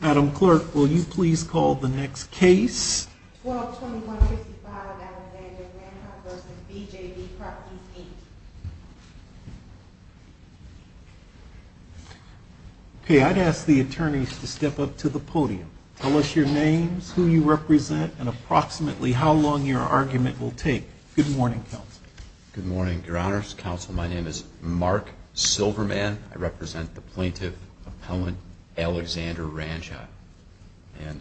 Madam Clerk, will you please call the next case? 1221-55 Dallas-Vanja, Ranjha v. BJB Properties, Inc. Okay, I'd ask the attorneys to step up to the podium. Tell us your names, who you represent, and approximately how long your argument will take. Good morning, Counsel. Good morning, Your Honors. Counsel, my name is Mark Silverman. I represent the plaintiff, Appellant Alexander Ranjha. And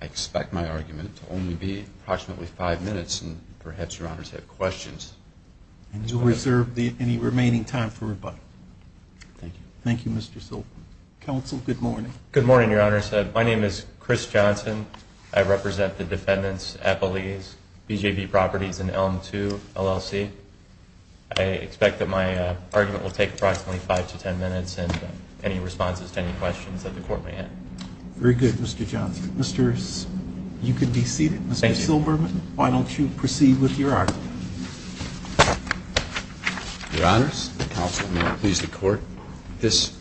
I expect my argument to only be approximately five minutes, and perhaps Your Honors have questions. And you'll reserve any remaining time for rebuttal. Thank you. Thank you, Mr. Silverman. Counsel, good morning. Good morning, Your Honors. My name is Chris Johnson. I represent the defendants, appellees, BJB Properties and Elm II, LLC. I expect that my argument will take approximately five to ten minutes, and any responses to any questions that the court may have. Very good, Mr. Johnson. You can be seated, Mr. Silverman. Thank you. Why don't you proceed with your argument? Your Honors, Counsel, may I please the Court? This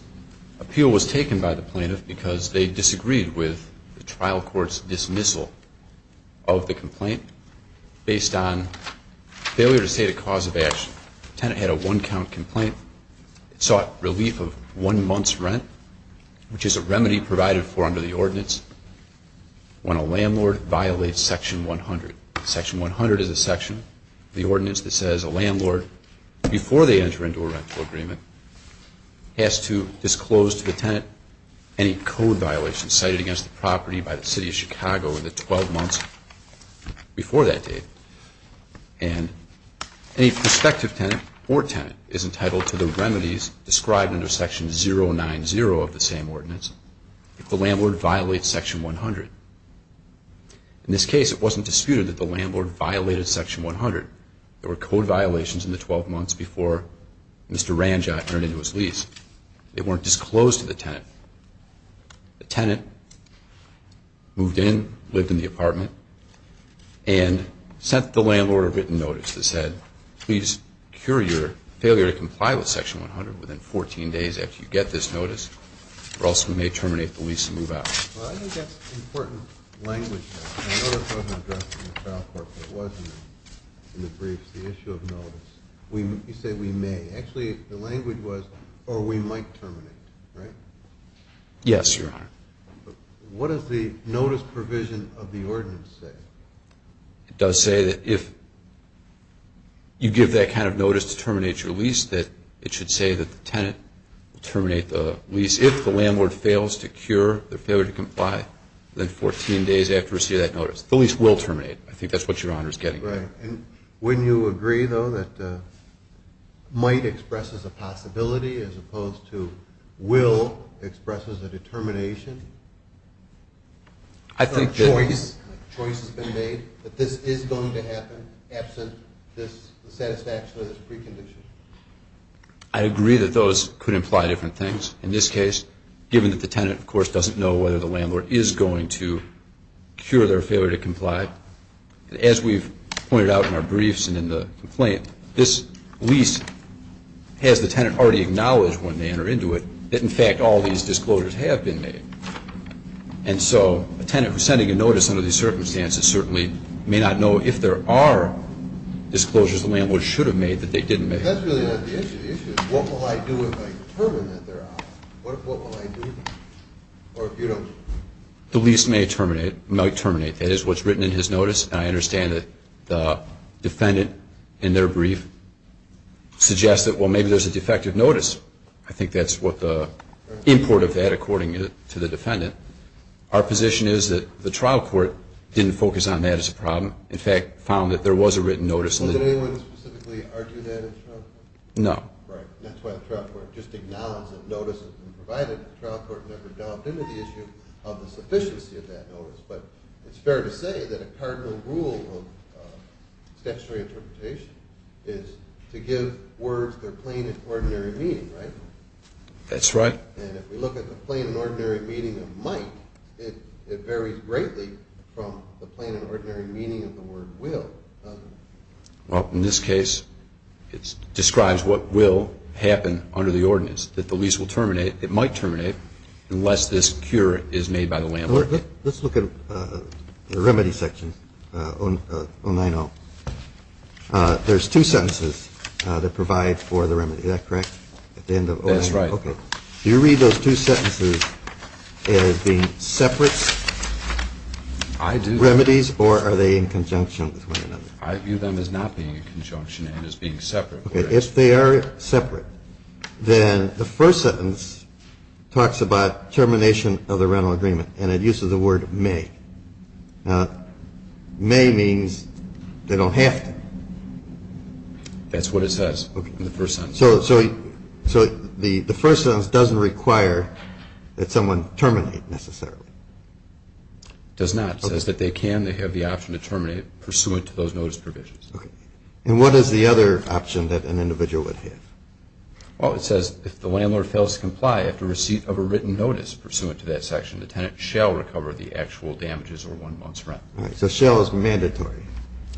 appeal was taken by the plaintiff because they disagreed with the trial court's dismissal of the complaint based on failure to state a cause of action. The tenant had a one-count complaint. It sought relief of one month's rent, which is a remedy provided for under the ordinance when a landlord violates Section 100. Section 100 is a section of the ordinance that says a landlord, before they enter into a rental agreement, has to disclose to the tenant any code violations cited against the property by the City of Chicago in the 12 months before that date. And any prospective tenant or tenant is entitled to the remedies described under Section 090 of the same ordinance if the landlord violates Section 100. In this case, it wasn't disputed that the landlord violated Section 100. There were code violations in the 12 months before Mr. Ranjot entered into his lease. They weren't disclosed to the tenant. The tenant moved in, lived in the apartment, and sent the landlord a written notice that said, please cure your failure to comply with Section 100 within 14 days after you get this notice or else we may terminate the lease and move out. Well, I think that's important language there. I know that wasn't addressed in the trial court, but it was in the briefs, the issue of notice. You said we may. Actually, the language was or we might terminate, right? Yes, Your Honor. What does the notice provision of the ordinance say? It does say that if you give that kind of notice to terminate your lease, that it should say that the tenant terminate the lease if the landlord fails to cure their failure to comply within 14 days after receiving that notice. The lease will terminate. I think that's what Your Honor is getting at. Right. Wouldn't you agree, though, that might expresses a possibility as opposed to will expresses a determination? I think that choice has been made that this is going to happen absent the satisfaction of this precondition. I agree that those could imply different things. In this case, given that the tenant, of course, doesn't know whether the landlord is going to cure their failure to comply, as we've pointed out in our briefs and in the complaint, this lease has the tenant already acknowledged when they enter into it that, in fact, all these disclosures have been made. And so a tenant who's sending a notice under these circumstances certainly may not know if there are disclosures the landlord should have made that they didn't make. That's really not the issue. The issue is what will I do if I determine that they're out? What will I do? Or if you don't? The lease may terminate, might terminate. That is what's written in his notice, and I understand that the defendant in their brief suggests that, well, maybe there's a defective notice. I think that's what the import of that according to the defendant. Our position is that the trial court didn't focus on that as a problem, in fact, found that there was a written notice. Did anyone specifically argue that in the trial court? No. Right. That's why the trial court just acknowledges that notice has been provided. The trial court never delved into the issue of the sufficiency of that notice. But it's fair to say that a cardinal rule of statutory interpretation is to give words their plain and ordinary meaning, right? That's right. And if we look at the plain and ordinary meaning of might, it varies greatly from the plain and ordinary meaning of the word will, doesn't it? Well, in this case, it describes what will happen under the ordinance, that the lease will terminate, it might terminate, unless this cure is made by the landlord. Let's look at the remedy section, 090. There's two sentences that provide for the remedy. Is that correct? That's right. Okay. Do you read those two sentences as being separate remedies or are they in conjunction with one another? I view them as not being in conjunction and as being separate. Okay. If they are separate, then the first sentence talks about termination of the rental agreement and it uses the word may. Now, may means they don't have to. That's what it says in the first sentence. So the first sentence doesn't require that someone terminate necessarily? It does not. It says that they can. They have the option to terminate pursuant to those notice provisions. Okay. And what is the other option that an individual would have? Well, it says if the landlord fails to comply after receipt of a written notice pursuant to that section, the tenant shall recover the actual damages or one month's rent. All right. So shall is mandatory.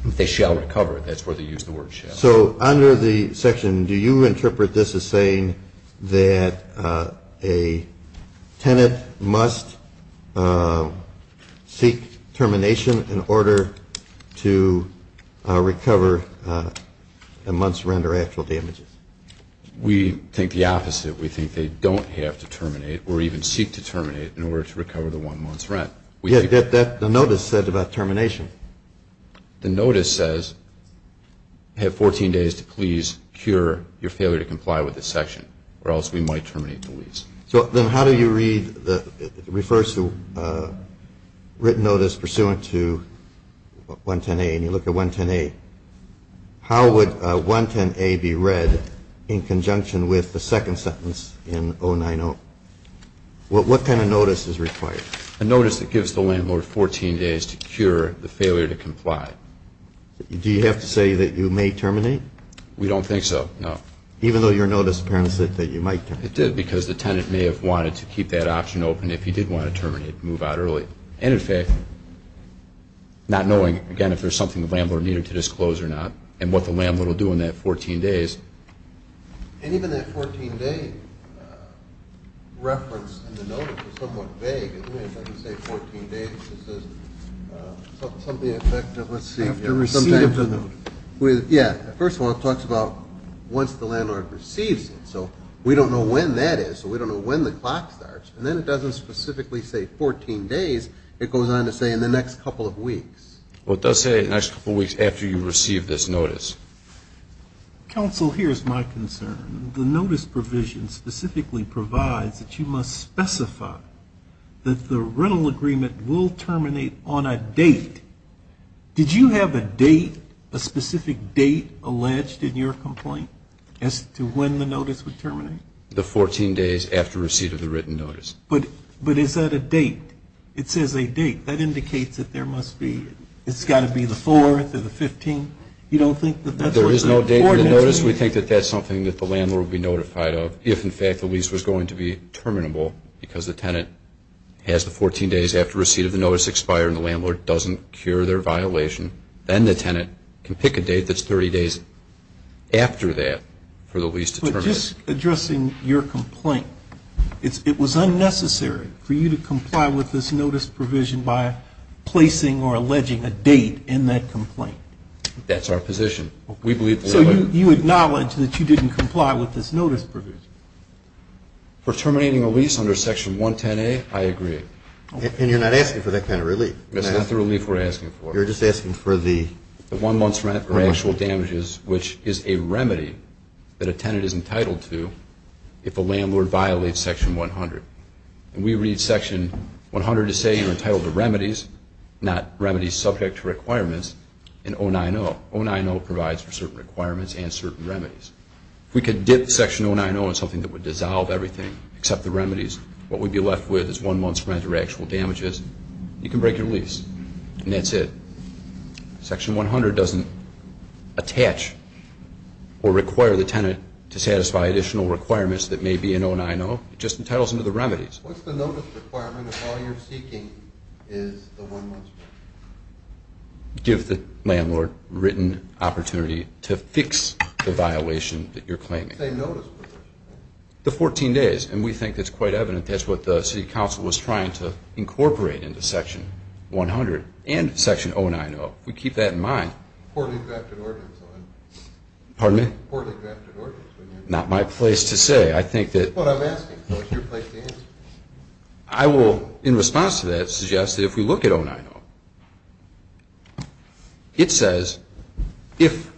They shall recover. That's where they use the word shall. So under the section, do you interpret this as saying that a tenant must seek termination in order to recover a month's rent or actual damages? We think the opposite. We think they don't have to terminate or even seek to terminate in order to recover the one month's rent. Yeah, the notice said about termination. The notice says have 14 days to please cure your failure to comply with this section or else we might terminate the lease. So then how do you read the refers to written notice pursuant to 110A? And you look at 110A. How would 110A be read in conjunction with the second sentence in 090? What kind of notice is required? A notice that gives the landlord 14 days to cure the failure to comply. Do you have to say that you may terminate? We don't think so, no. Even though your notice apparently said that you might terminate? It did because the tenant may have wanted to keep that option open if he did want to terminate and move out early. And, in fact, not knowing, again, if there's something the landlord needed to disclose or not and what the landlord will do in that 14 days. And even that 14-day reference in the notice is somewhat vague, isn't it? It doesn't say 14 days. It just says something effective, let's see. After receiving the notice. Yeah, first of all, it talks about once the landlord receives it. So we don't know when that is, so we don't know when the clock starts. And then it doesn't specifically say 14 days. It goes on to say in the next couple of weeks. Well, it does say in the next couple of weeks after you receive this notice. Counsel, here's my concern. The notice provision specifically provides that you must specify that the rental agreement will terminate on a date. Did you have a date, a specific date alleged in your complaint as to when the notice would terminate? The 14 days after receipt of the written notice. But is that a date? It says a date. That indicates that there must be, it's got to be the 4th or the 15th. There is no date in the notice. We think that that's something that the landlord would be notified of if, in fact, the lease was going to be terminable because the tenant has the 14 days after receipt of the notice expired and the landlord doesn't cure their violation. Then the tenant can pick a date that's 30 days after that for the lease to terminate. But just addressing your complaint, it was unnecessary for you to comply with this notice provision by placing or alleging a date in that complaint. That's our position. So you acknowledge that you didn't comply with this notice provision? For terminating a lease under Section 110A, I agree. And you're not asking for that kind of relief? That's not the relief we're asking for. You're just asking for the? The one month's rent or actual damages, which is a remedy that a tenant is entitled to if a landlord violates Section 100. And we read Section 100 as saying you're entitled to remedies, not remedies subject to requirements, in 090. 090 provides for certain requirements and certain remedies. If we could dip Section 090 in something that would dissolve everything except the remedies, what we'd be left with is one month's rent or actual damages. You can break your lease, and that's it. Section 100 doesn't attach or require the tenant to satisfy additional requirements that may be in 090. It just entitles them to the remedies. What's the notice requirement if all you're seeking is the one month's rent? Give the landlord a written opportunity to fix the violation that you're claiming. It's the same notice provision, right? The 14 days, and we think that's quite evident. That's what the City Council was trying to incorporate into Section 100 and Section 090. If we keep that in mind. Poorly drafted ordinance, though. Pardon me? Poorly drafted ordinance. Not my place to say. I think that. That's what I'm asking. What's your place to answer? I will, in response to that, suggest that if we look at 090, it says if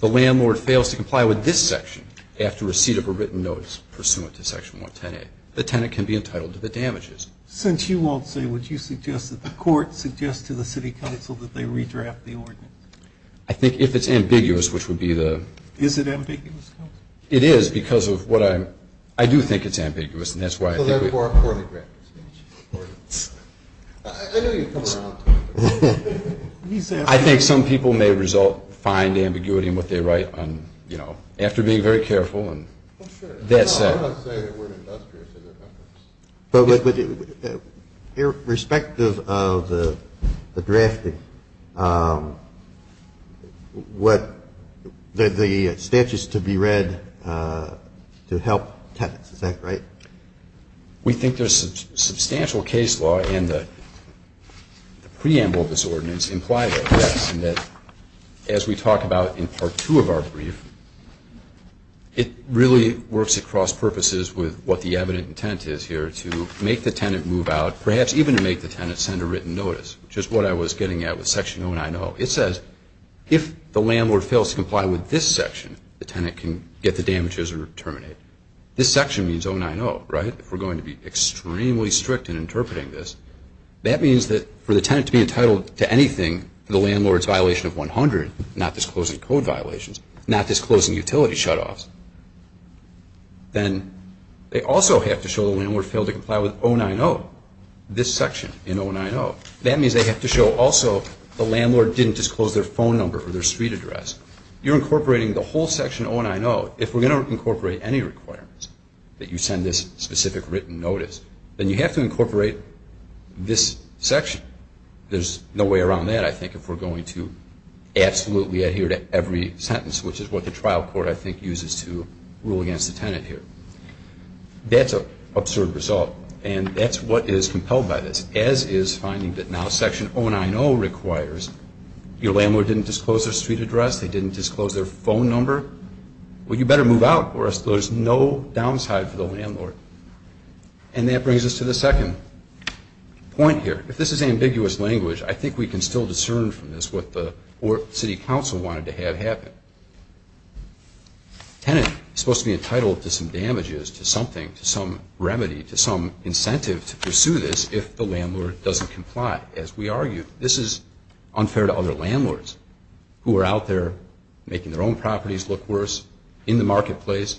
the landlord fails to comply with this section after receipt of a written notice pursuant to Section 110A, the tenant can be entitled to the damages. Since you won't say, would you suggest that the court suggest to the City Council that they redraft the ordinance? I think if it's ambiguous, which would be the. Is it ambiguous? It is, because of what I'm. I do think it's ambiguous, and that's why. So therefore, a poorly drafted statute is important. I knew you'd come around to it. I think some people may result, find ambiguity in what they write on, you know, after being very careful and. Oh, sure. That said. I'm not saying that we're industrious in our efforts. But irrespective of the drafting, what the statute is to be read to help tenants, is that right? We think there's substantial case law in the preamble of this ordinance implied by this, as we talk about in Part 2 of our brief, it really works across purposes with what the evident intent is here to make the tenant move out, perhaps even to make the tenant send a written notice, which is what I was getting at with Section 090. It says if the landlord fails to comply with this section, the tenant can get the damages or terminate. This section means 090, right? If we're going to be extremely strict in interpreting this, that means that for the tenant to be entitled to anything, the landlord's violation of 100, not disclosing code violations, not disclosing utility shutoffs, then they also have to show the landlord failed to comply with 090, this section in 090. That means they have to show also the landlord didn't disclose their phone number or their suite address. You're incorporating the whole Section 090. If we're going to incorporate any requirements that you send this specific written notice, then you have to incorporate this section. There's no way around that, I think, if we're going to absolutely adhere to every sentence, which is what the trial court, I think, uses to rule against the tenant here. That's an absurd result, and that's what is compelled by this, as is finding that now Section 090 requires your landlord didn't disclose their suite address, they didn't disclose their phone number. Well, you better move out or there's no downside for the landlord. And that brings us to the second point here. If this is ambiguous language, I think we can still discern from this what the city council wanted to have happen. Tenant is supposed to be entitled to some damages, to something, to some remedy, to some incentive to pursue this if the landlord doesn't comply, as we argue. This is unfair to other landlords who are out there making their own properties look worse in the marketplace,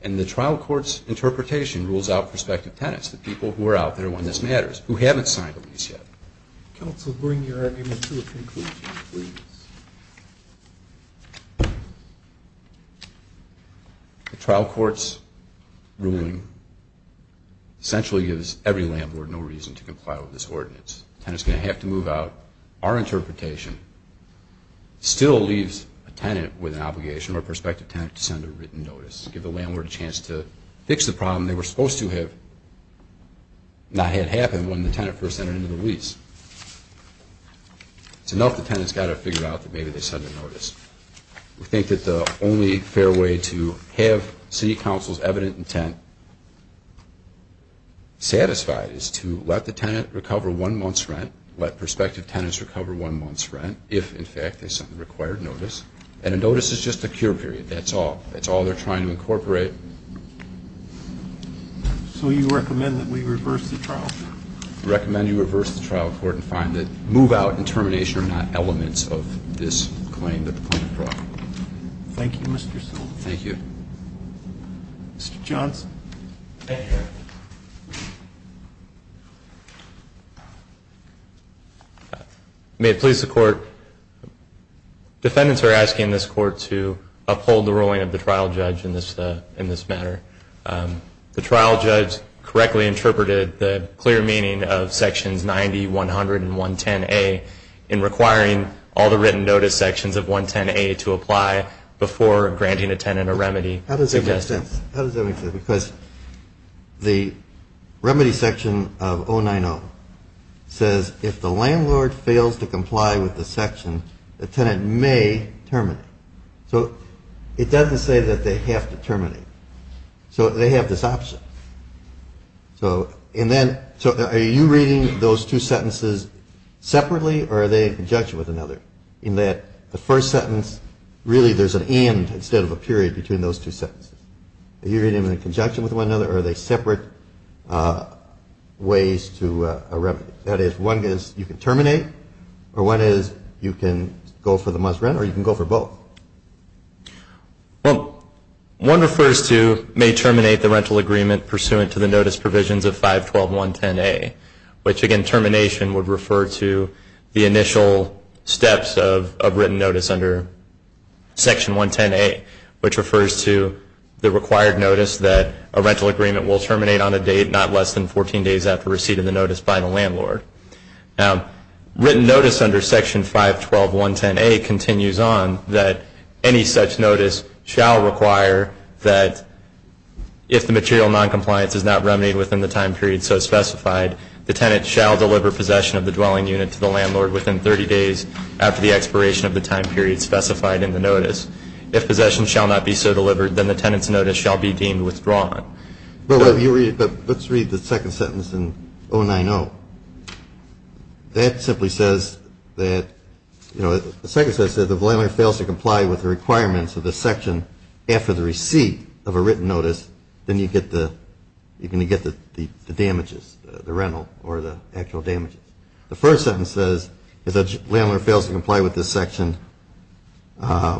and the trial court's interpretation rules out prospective tenants, the people who are out there when this matters, who haven't signed a lease yet. Counsel, bring your argument to a conclusion, please. The trial court's ruling essentially gives every landlord no reason to comply with this ordinance. Tenant's going to have to move out. Our interpretation still leaves a tenant with an obligation or a prospective tenant to send a written notice, give the landlord a chance to fix the problem they were supposed to have not had happen when the tenant first entered into the lease. It's enough the tenant's got to figure out that maybe they sent a notice. We think that the only fair way to have city council's evident intent satisfied is to let the tenant recover one month's rent, let prospective tenants recover one month's rent, if, in fact, they sent the required notice, and a notice is just a cure period. That's all. That's all they're trying to incorporate. So you recommend that we reverse the trial court? We recommend you reverse the trial court and find that move out and termination are not elements of this claim that the plaintiff brought. Thank you, Mr. Silva. Thank you. Mr. Johnson. Thank you. May it please the court, defendants are asking this court to uphold the ruling of the trial judge in this matter. The trial judge correctly interpreted the clear meaning of sections 90, 100, and 110A in requiring all the written notice sections of 110A to apply before granting a tenant a remedy. How does that make sense? How does that make sense? Because the remedy section of 090 says if the landlord fails to comply with the section, the tenant may terminate. So it doesn't say that they have to terminate. So they have this option. So are you reading those two sentences separately or are they in conjunction with another in that the first sentence really there's an end instead of a period between those two sentences? Are you reading them in conjunction with one another or are they separate ways to a remedy? That is, one is you can terminate or one is you can go for the must rent or you can go for both. Well, one refers to may terminate the rental agreement pursuant to the notice provisions of 512.110A, which again termination would refer to the initial steps of written notice under section 110A, which refers to the required notice that a rental agreement will terminate on a date not less than 14 days after receiving the notice by the landlord. Written notice under section 512.110A continues on that any such notice shall require that if the material noncompliance does not remain within the time period so specified, the tenant shall deliver possession of the dwelling unit to the landlord within 30 days after the expiration of the time period specified in the notice. If possession shall not be so delivered, then the tenant's notice shall be deemed withdrawn. But let's read the second sentence in 090. That simply says that, you know, the second sentence says if the landlord fails to comply with the requirements of the section after the receipt of a written notice, then you get the damages, the rental or the actual damages. The first sentence says if the landlord fails to comply with this section, the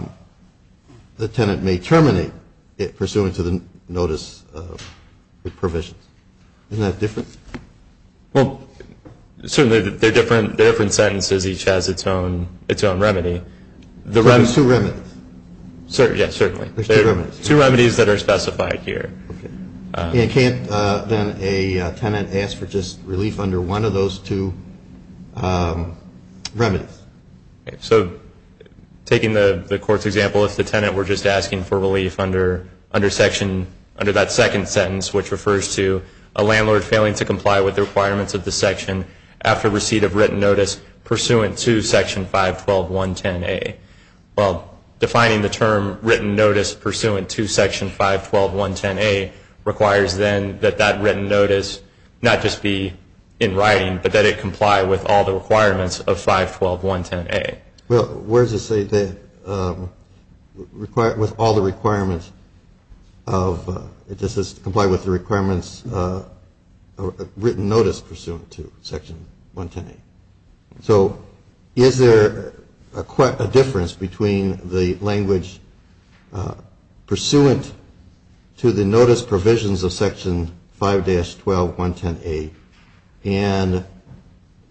tenant may terminate it pursuant to the notice provisions. Isn't that different? Well, certainly they're different. They're different sentences. Each has its own remedy. So there's two remedies. Yes, certainly. There's two remedies. Two remedies that are specified here. Can't then a tenant ask for just relief under one of those two remedies? So taking the court's example, if the tenant were just asking for relief under that second sentence, which refers to a landlord failing to comply with the requirements of the section after receipt of written notice pursuant to Section 512.110A. Well, defining the term written notice pursuant to Section 512.110A requires then that that written notice not just be in writing, but that it comply with all the requirements of 512.110A. Well, where does it say that with all the requirements of, it just says comply with the requirements of written notice pursuant to Section 110A. So is there a difference between the language pursuant to the notice provisions of Section 5-12.110A and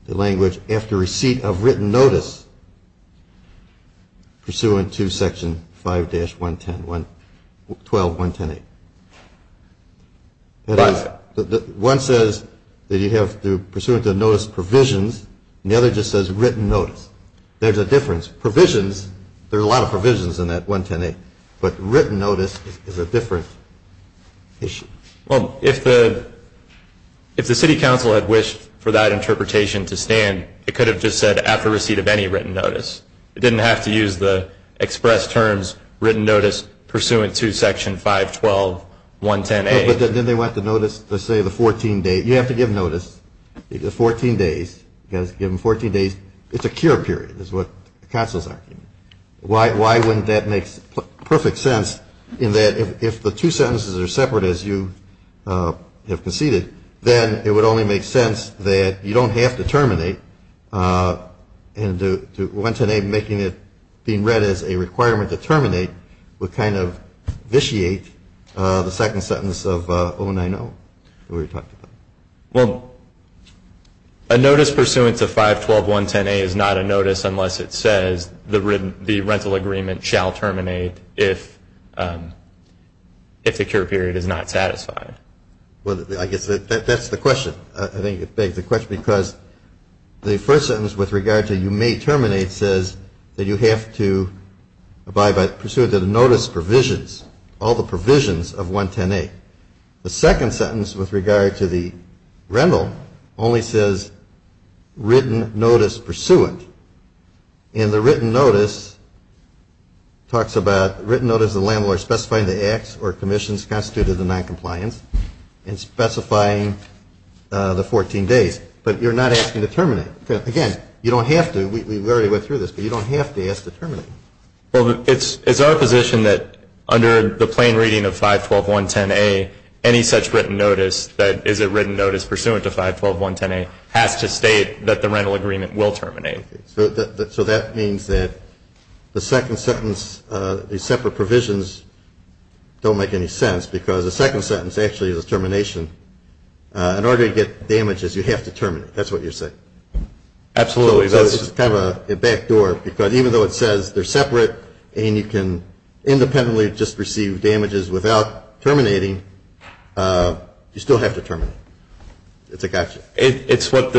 the language after receipt of written notice pursuant to Section 5-112.110A? One says that you have pursuant to the notice provisions, and the other just says written notice. There's a difference. Provisions, there are a lot of provisions in that 110A, but written notice is a different issue. Well, if the city council had wished for that interpretation to stand, it could have just said after receipt of any written notice. It didn't have to use the express terms written notice pursuant to Section 5-12.110A. But then they went to notice, let's say, the 14 days. You have to give notice, the 14 days. You've got to give them 14 days. It's a cure period is what the council is arguing. Why wouldn't that make perfect sense in that if the two sentences are separate, as you have conceded, then it would only make sense that you don't have to terminate, and 110A making it being read as a requirement to terminate would kind of vitiate the second sentence of 090. Well, a notice pursuant to 5-12.110A is not a notice unless it says the rental agreement shall terminate if the cure period is not satisfied. Well, I guess that's the question. I think it begs the question because the first sentence with regard to you may terminate says that you have to abide by pursuant to the notice provisions, all the provisions of 110A. The second sentence with regard to the rental only says written notice pursuant. And the written notice talks about written notice of the landlord specifying the acts or commissions constituted in noncompliance and specifying the 14 days. But you're not asking to terminate. Again, you don't have to. We've already went through this, but you don't have to ask to terminate. Well, it's our position that under the plain reading of 5-12.110A, any such written notice that is a written notice pursuant to 5-12.110A has to state that the rental agreement will terminate. So that means that the second sentence, the separate provisions don't make any sense because the second sentence actually is a termination. In order to get damages, you have to terminate. That's what you're saying. Absolutely. It's kind of a back door because even though it says they're separate and you can independently just receive damages without terminating, you still have to terminate. It's a gotcha. It's how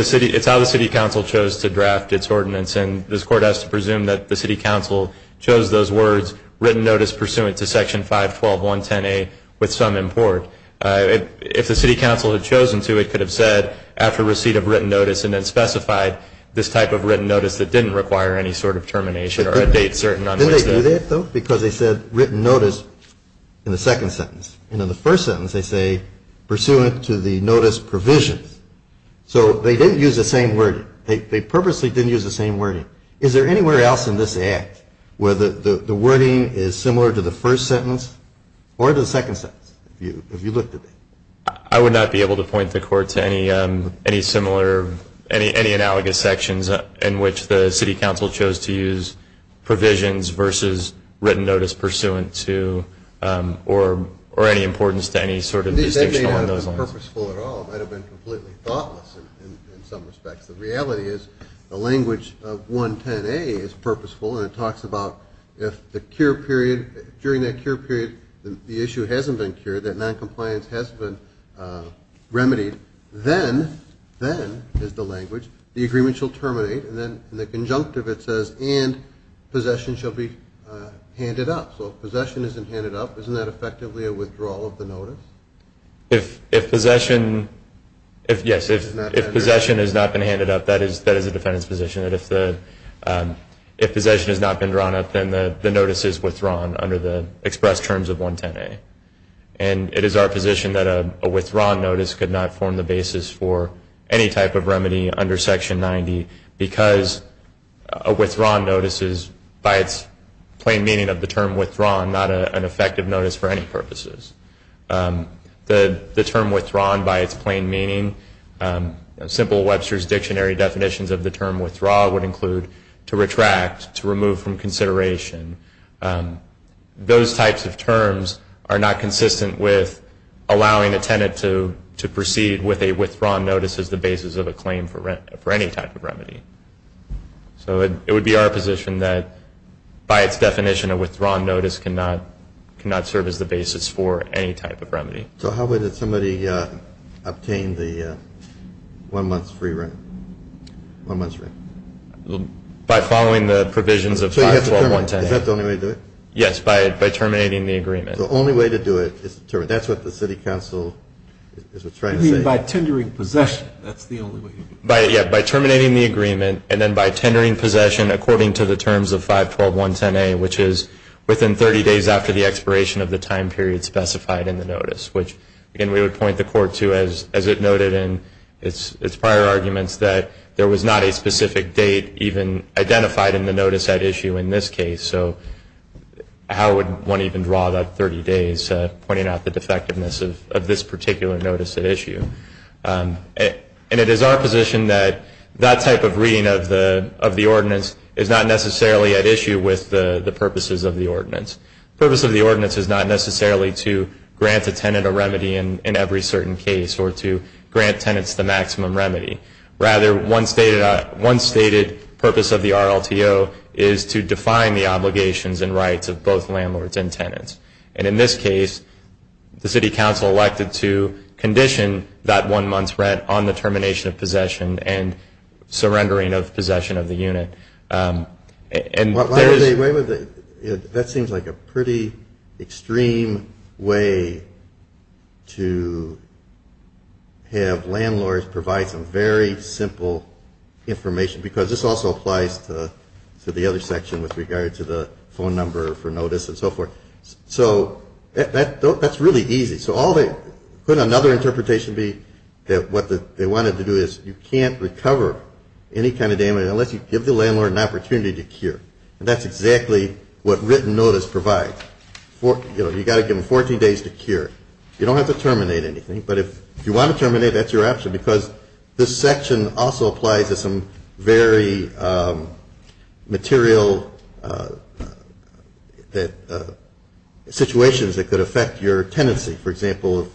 the city council chose to draft its ordinance, and this Court has to presume that the city council chose those words written notice pursuant to Section 5-12.110A with some import. If the city council had chosen to, it could have said after receipt of written notice and then specified this type of written notice that didn't require any sort of termination or a date certain. Didn't they do that, though? Because they said written notice in the second sentence, and in the first sentence they say pursuant to the notice provisions. So they didn't use the same wording. They purposely didn't use the same wording. Is there anywhere else in this Act where the wording is similar to the first sentence or to the second sentence if you looked at it? I would not be able to point the Court to any similar, any analogous sections in which the city council chose to use provisions versus written notice pursuant to or any importance to any sort of distinction on those lines. It may not have been purposeful at all. It might have been completely thoughtless in some respects. The reality is the language of 110A is purposeful, and it talks about if the cure period, during that cure period the issue hasn't been cured, that noncompliance has been remedied, then, then is the language, the agreement shall terminate, and then in the conjunctive it says, and possession shall be handed up. So if possession isn't handed up, isn't that effectively a withdrawal of the notice? If possession has not been handed up, that is a defendant's position. If possession has not been drawn up, then the notice is withdrawn under the express terms of 110A. And it is our position that a withdrawn notice could not form the basis for any type of remedy under Section 90 because a withdrawn notice is, by its plain meaning of the term withdrawn, not an effective notice for any purposes. The term withdrawn, by its plain meaning, simple Webster's Dictionary definitions of the term withdraw would include to retract, to remove from consideration. Those types of terms are not consistent with allowing a tenant to proceed with a withdrawn notice as the basis of a claim for any type of remedy. So it would be our position that, by its definition, a withdrawn notice cannot serve as the basis for any type of remedy. So how would somebody obtain the one month's free rent? One month's rent. By following the provisions of 512.110A. Is that the only way to do it? Yes, by terminating the agreement. The only way to do it is to terminate. That's what the City Council is trying to say. You mean by tendering possession. That's the only way to do it. Yeah, by terminating the agreement and then by tendering possession according to the terms of 512.110A, which is within 30 days after the expiration of the time period specified in the notice, which, again, we would point the Court to, as it noted in its prior arguments, that there was not a specific date even identified in the notice at issue in this case. So how would one even draw that 30 days, pointing out the defectiveness of this particular notice at issue? And it is our position that that type of reading of the ordinance is not necessarily at issue with the purposes of the ordinance. The purpose of the ordinance is not necessarily to grant a tenant a remedy in every certain case or to grant tenants the maximum remedy. Rather, one stated purpose of the RLTO is to define the obligations and rights of both landlords and tenants. And in this case, the City Council elected to condition that one month's rent on the termination of possession and surrendering of possession of the unit. That seems like a pretty extreme way to have landlords provide some very simple information because this also applies to the other section with regard to the phone number for notice and so forth. So that's really easy. So couldn't another interpretation be that what they wanted to do is you can't recover any kind of damage unless you give the landlord an opportunity to cure. And that's exactly what written notice provides. You've got to give them 14 days to cure. You don't have to terminate anything, but if you want to terminate, that's your option because this section also applies to some very material situations that could affect your tenancy. For example,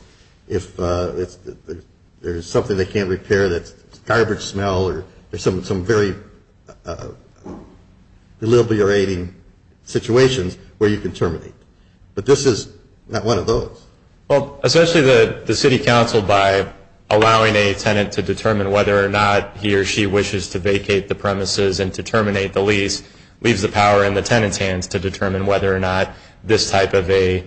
if there's something they can't repair that's garbage smell or there's some very deliberating situations where you can terminate. But this is not one of those. Well, essentially the City Council, by allowing a tenant to determine whether or not he or she wishes to vacate the premises and to terminate the lease, leaves the power in the tenant's hands to determine whether or not this type of a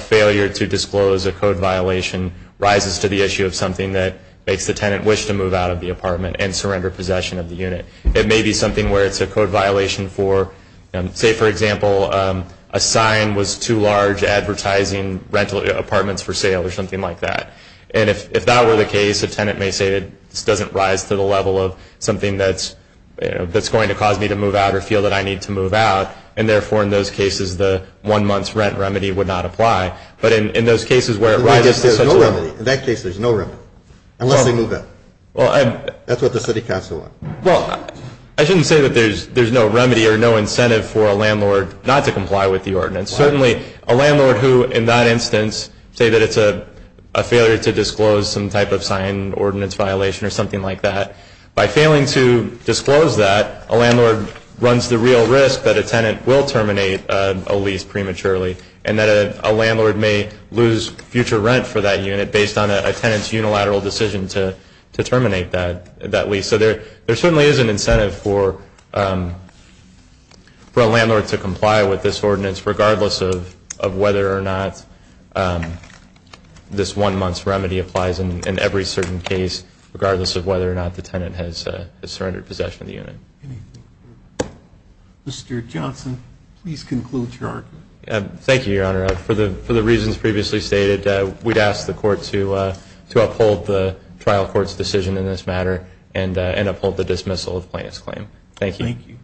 failure to disclose a code violation rises to the issue of something that makes the tenant wish to move out of the apartment and surrender possession of the unit. It may be something where it's a code violation for, say for example, a sign was too large advertising rental apartments for sale or something like that. And if that were the case, a tenant may say this doesn't rise to the level of something that's going to cause me to move out or feel that I need to move out, and therefore in those cases the one month's rent remedy would not apply. But in those cases where it rises to such a level. In that case there's no remedy, unless they move out. That's what the City Council wants. Well, I shouldn't say that there's no remedy or no incentive for a landlord not to comply with the ordinance. Certainly a landlord who in that instance say that it's a failure to disclose some type of sign ordinance violation or something like that, by failing to disclose that, a landlord runs the real risk that a tenant will terminate a lease prematurely and that a landlord may lose future rent for that unit based on a tenant's unilateral decision to terminate that lease. So there certainly is an incentive for a landlord to comply with this ordinance, regardless of whether or not this one month's remedy applies in every certain case, regardless of whether or not the tenant has surrendered possession of the unit. Mr. Johnson, please conclude your argument. Thank you, Your Honor. For the reasons previously stated, we'd ask the Court to uphold the trial court's decision in this matter and uphold the dismissal of plaintiff's claim. Thank you. Thank you.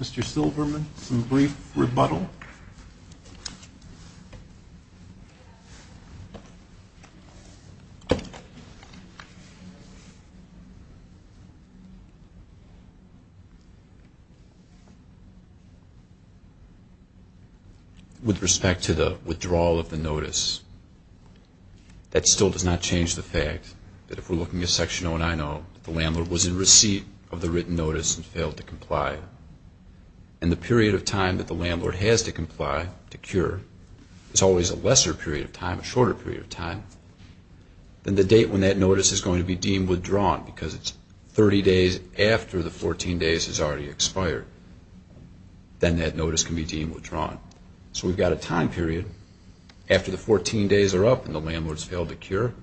Mr. Silverman, some brief rebuttal. With respect to the withdrawal of the notice, that still does not change the fact that if we're looking at Section 090, the landlord was in receipt of the written notice and failed to comply. And the period of time that the landlord has to comply to cure is always a lesser period of time, a shorter period of time than the date when that notice is going to be deemed withdrawn because it's 30 days after the 14 days has already expired. Then that notice can be deemed withdrawn. So we've got a time period. After the 14 days are up and the landlord's failed to cure,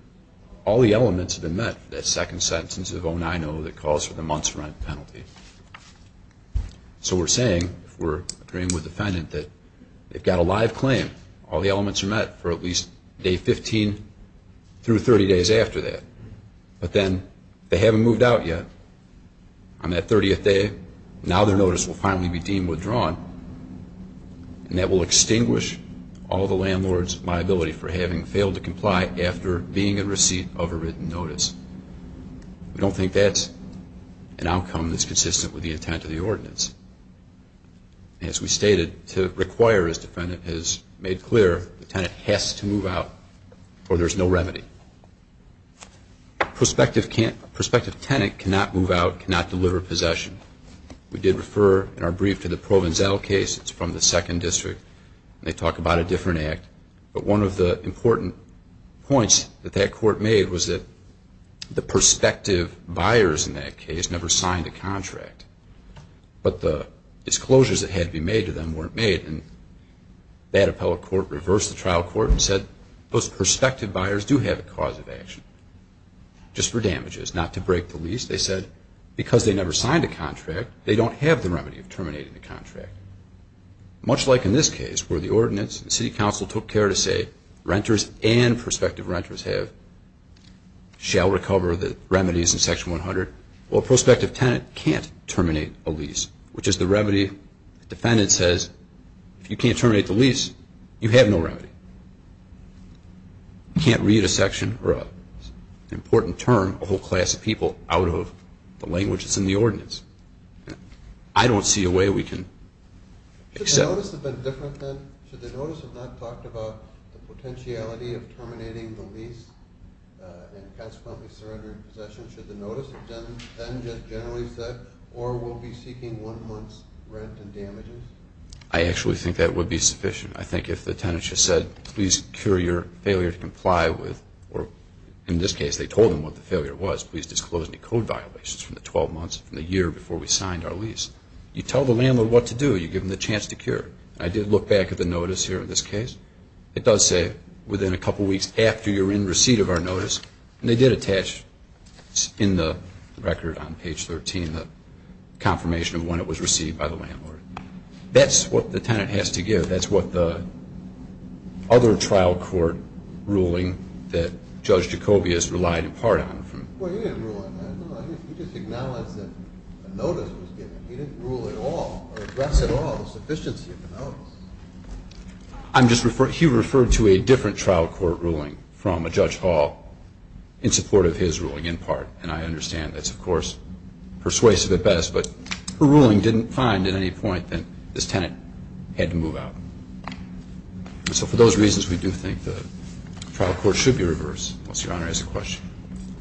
all the elements have been met for that second sentence of 090 that calls for the month's rent penalty. So we're saying, if we're agreeing with the defendant, that they've got a live claim. All the elements are met for at least day 15 through 30 days after that. But then they haven't moved out yet. On that 30th day, now their notice will finally be deemed withdrawn, and that will extinguish all the landlord's liability for having failed to comply after being in receipt of a written notice. We don't think that's an outcome that's consistent with the intent of the ordinance. As we stated, to require, as the defendant has made clear, the tenant has to move out or there's no remedy. Prospective tenant cannot move out, cannot deliver possession. We did refer in our brief to the Provenzale case. It's from the Second District. They talk about a different act. But one of the important points that that court made was that the prospective buyers in that case never signed a contract. But the disclosures that had to be made to them weren't made. And that appellate court reversed the trial court and said, those prospective buyers do have a cause of action, just for damages, not to break the lease. They said, because they never signed a contract, they don't have the remedy of terminating the contract. Much like in this case where the ordinance, the city council took care to say, renters and prospective renters shall recover the remedies in Section 100. Well, a prospective tenant can't terminate a lease, which is the remedy. The defendant says, if you can't terminate the lease, you have no remedy. You can't read a section or an important term, a whole class of people out of the language that's in the ordinance. I don't see a way we can accept that. Should the notice have been different then? Should the notice have not talked about the potentiality of terminating the lease and consequently surrendering possession? Should the notice have then just generally said, or we'll be seeking one month's rent and damages? I actually think that would be sufficient. I think if the tenant just said, please cure your failure to comply with, or in this case they told them what the failure was, please disclose any code violations from the 12 months from the year before we signed our lease. You tell the landlord what to do. You give them the chance to cure. I did look back at the notice here in this case. It does say, within a couple weeks after you're in receipt of our notice, and they did attach in the record on page 13 the confirmation of when it was received by the landlord. That's what the tenant has to give. That's what the other trial court ruling that Judge Jacobius relied in part on. Well, he didn't rule on that. No, he just acknowledged that the notice was given. He didn't rule at all or address at all the sufficiency of the notice. He referred to a different trial court ruling from a Judge Hall in support of his ruling in part, and I understand that's, of course, persuasive at best, but her ruling didn't find at any point that this tenant had to move out. So for those reasons, we do think the trial court should be reversed. Unless Your Honor has a question.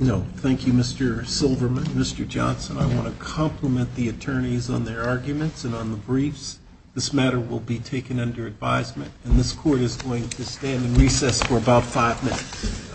No. Thank you, Mr. Silverman. Mr. Johnson, I want to compliment the attorneys on their arguments and on the briefs. This matter will be taken under advisement, and this court is going to stand in recess for about five minutes.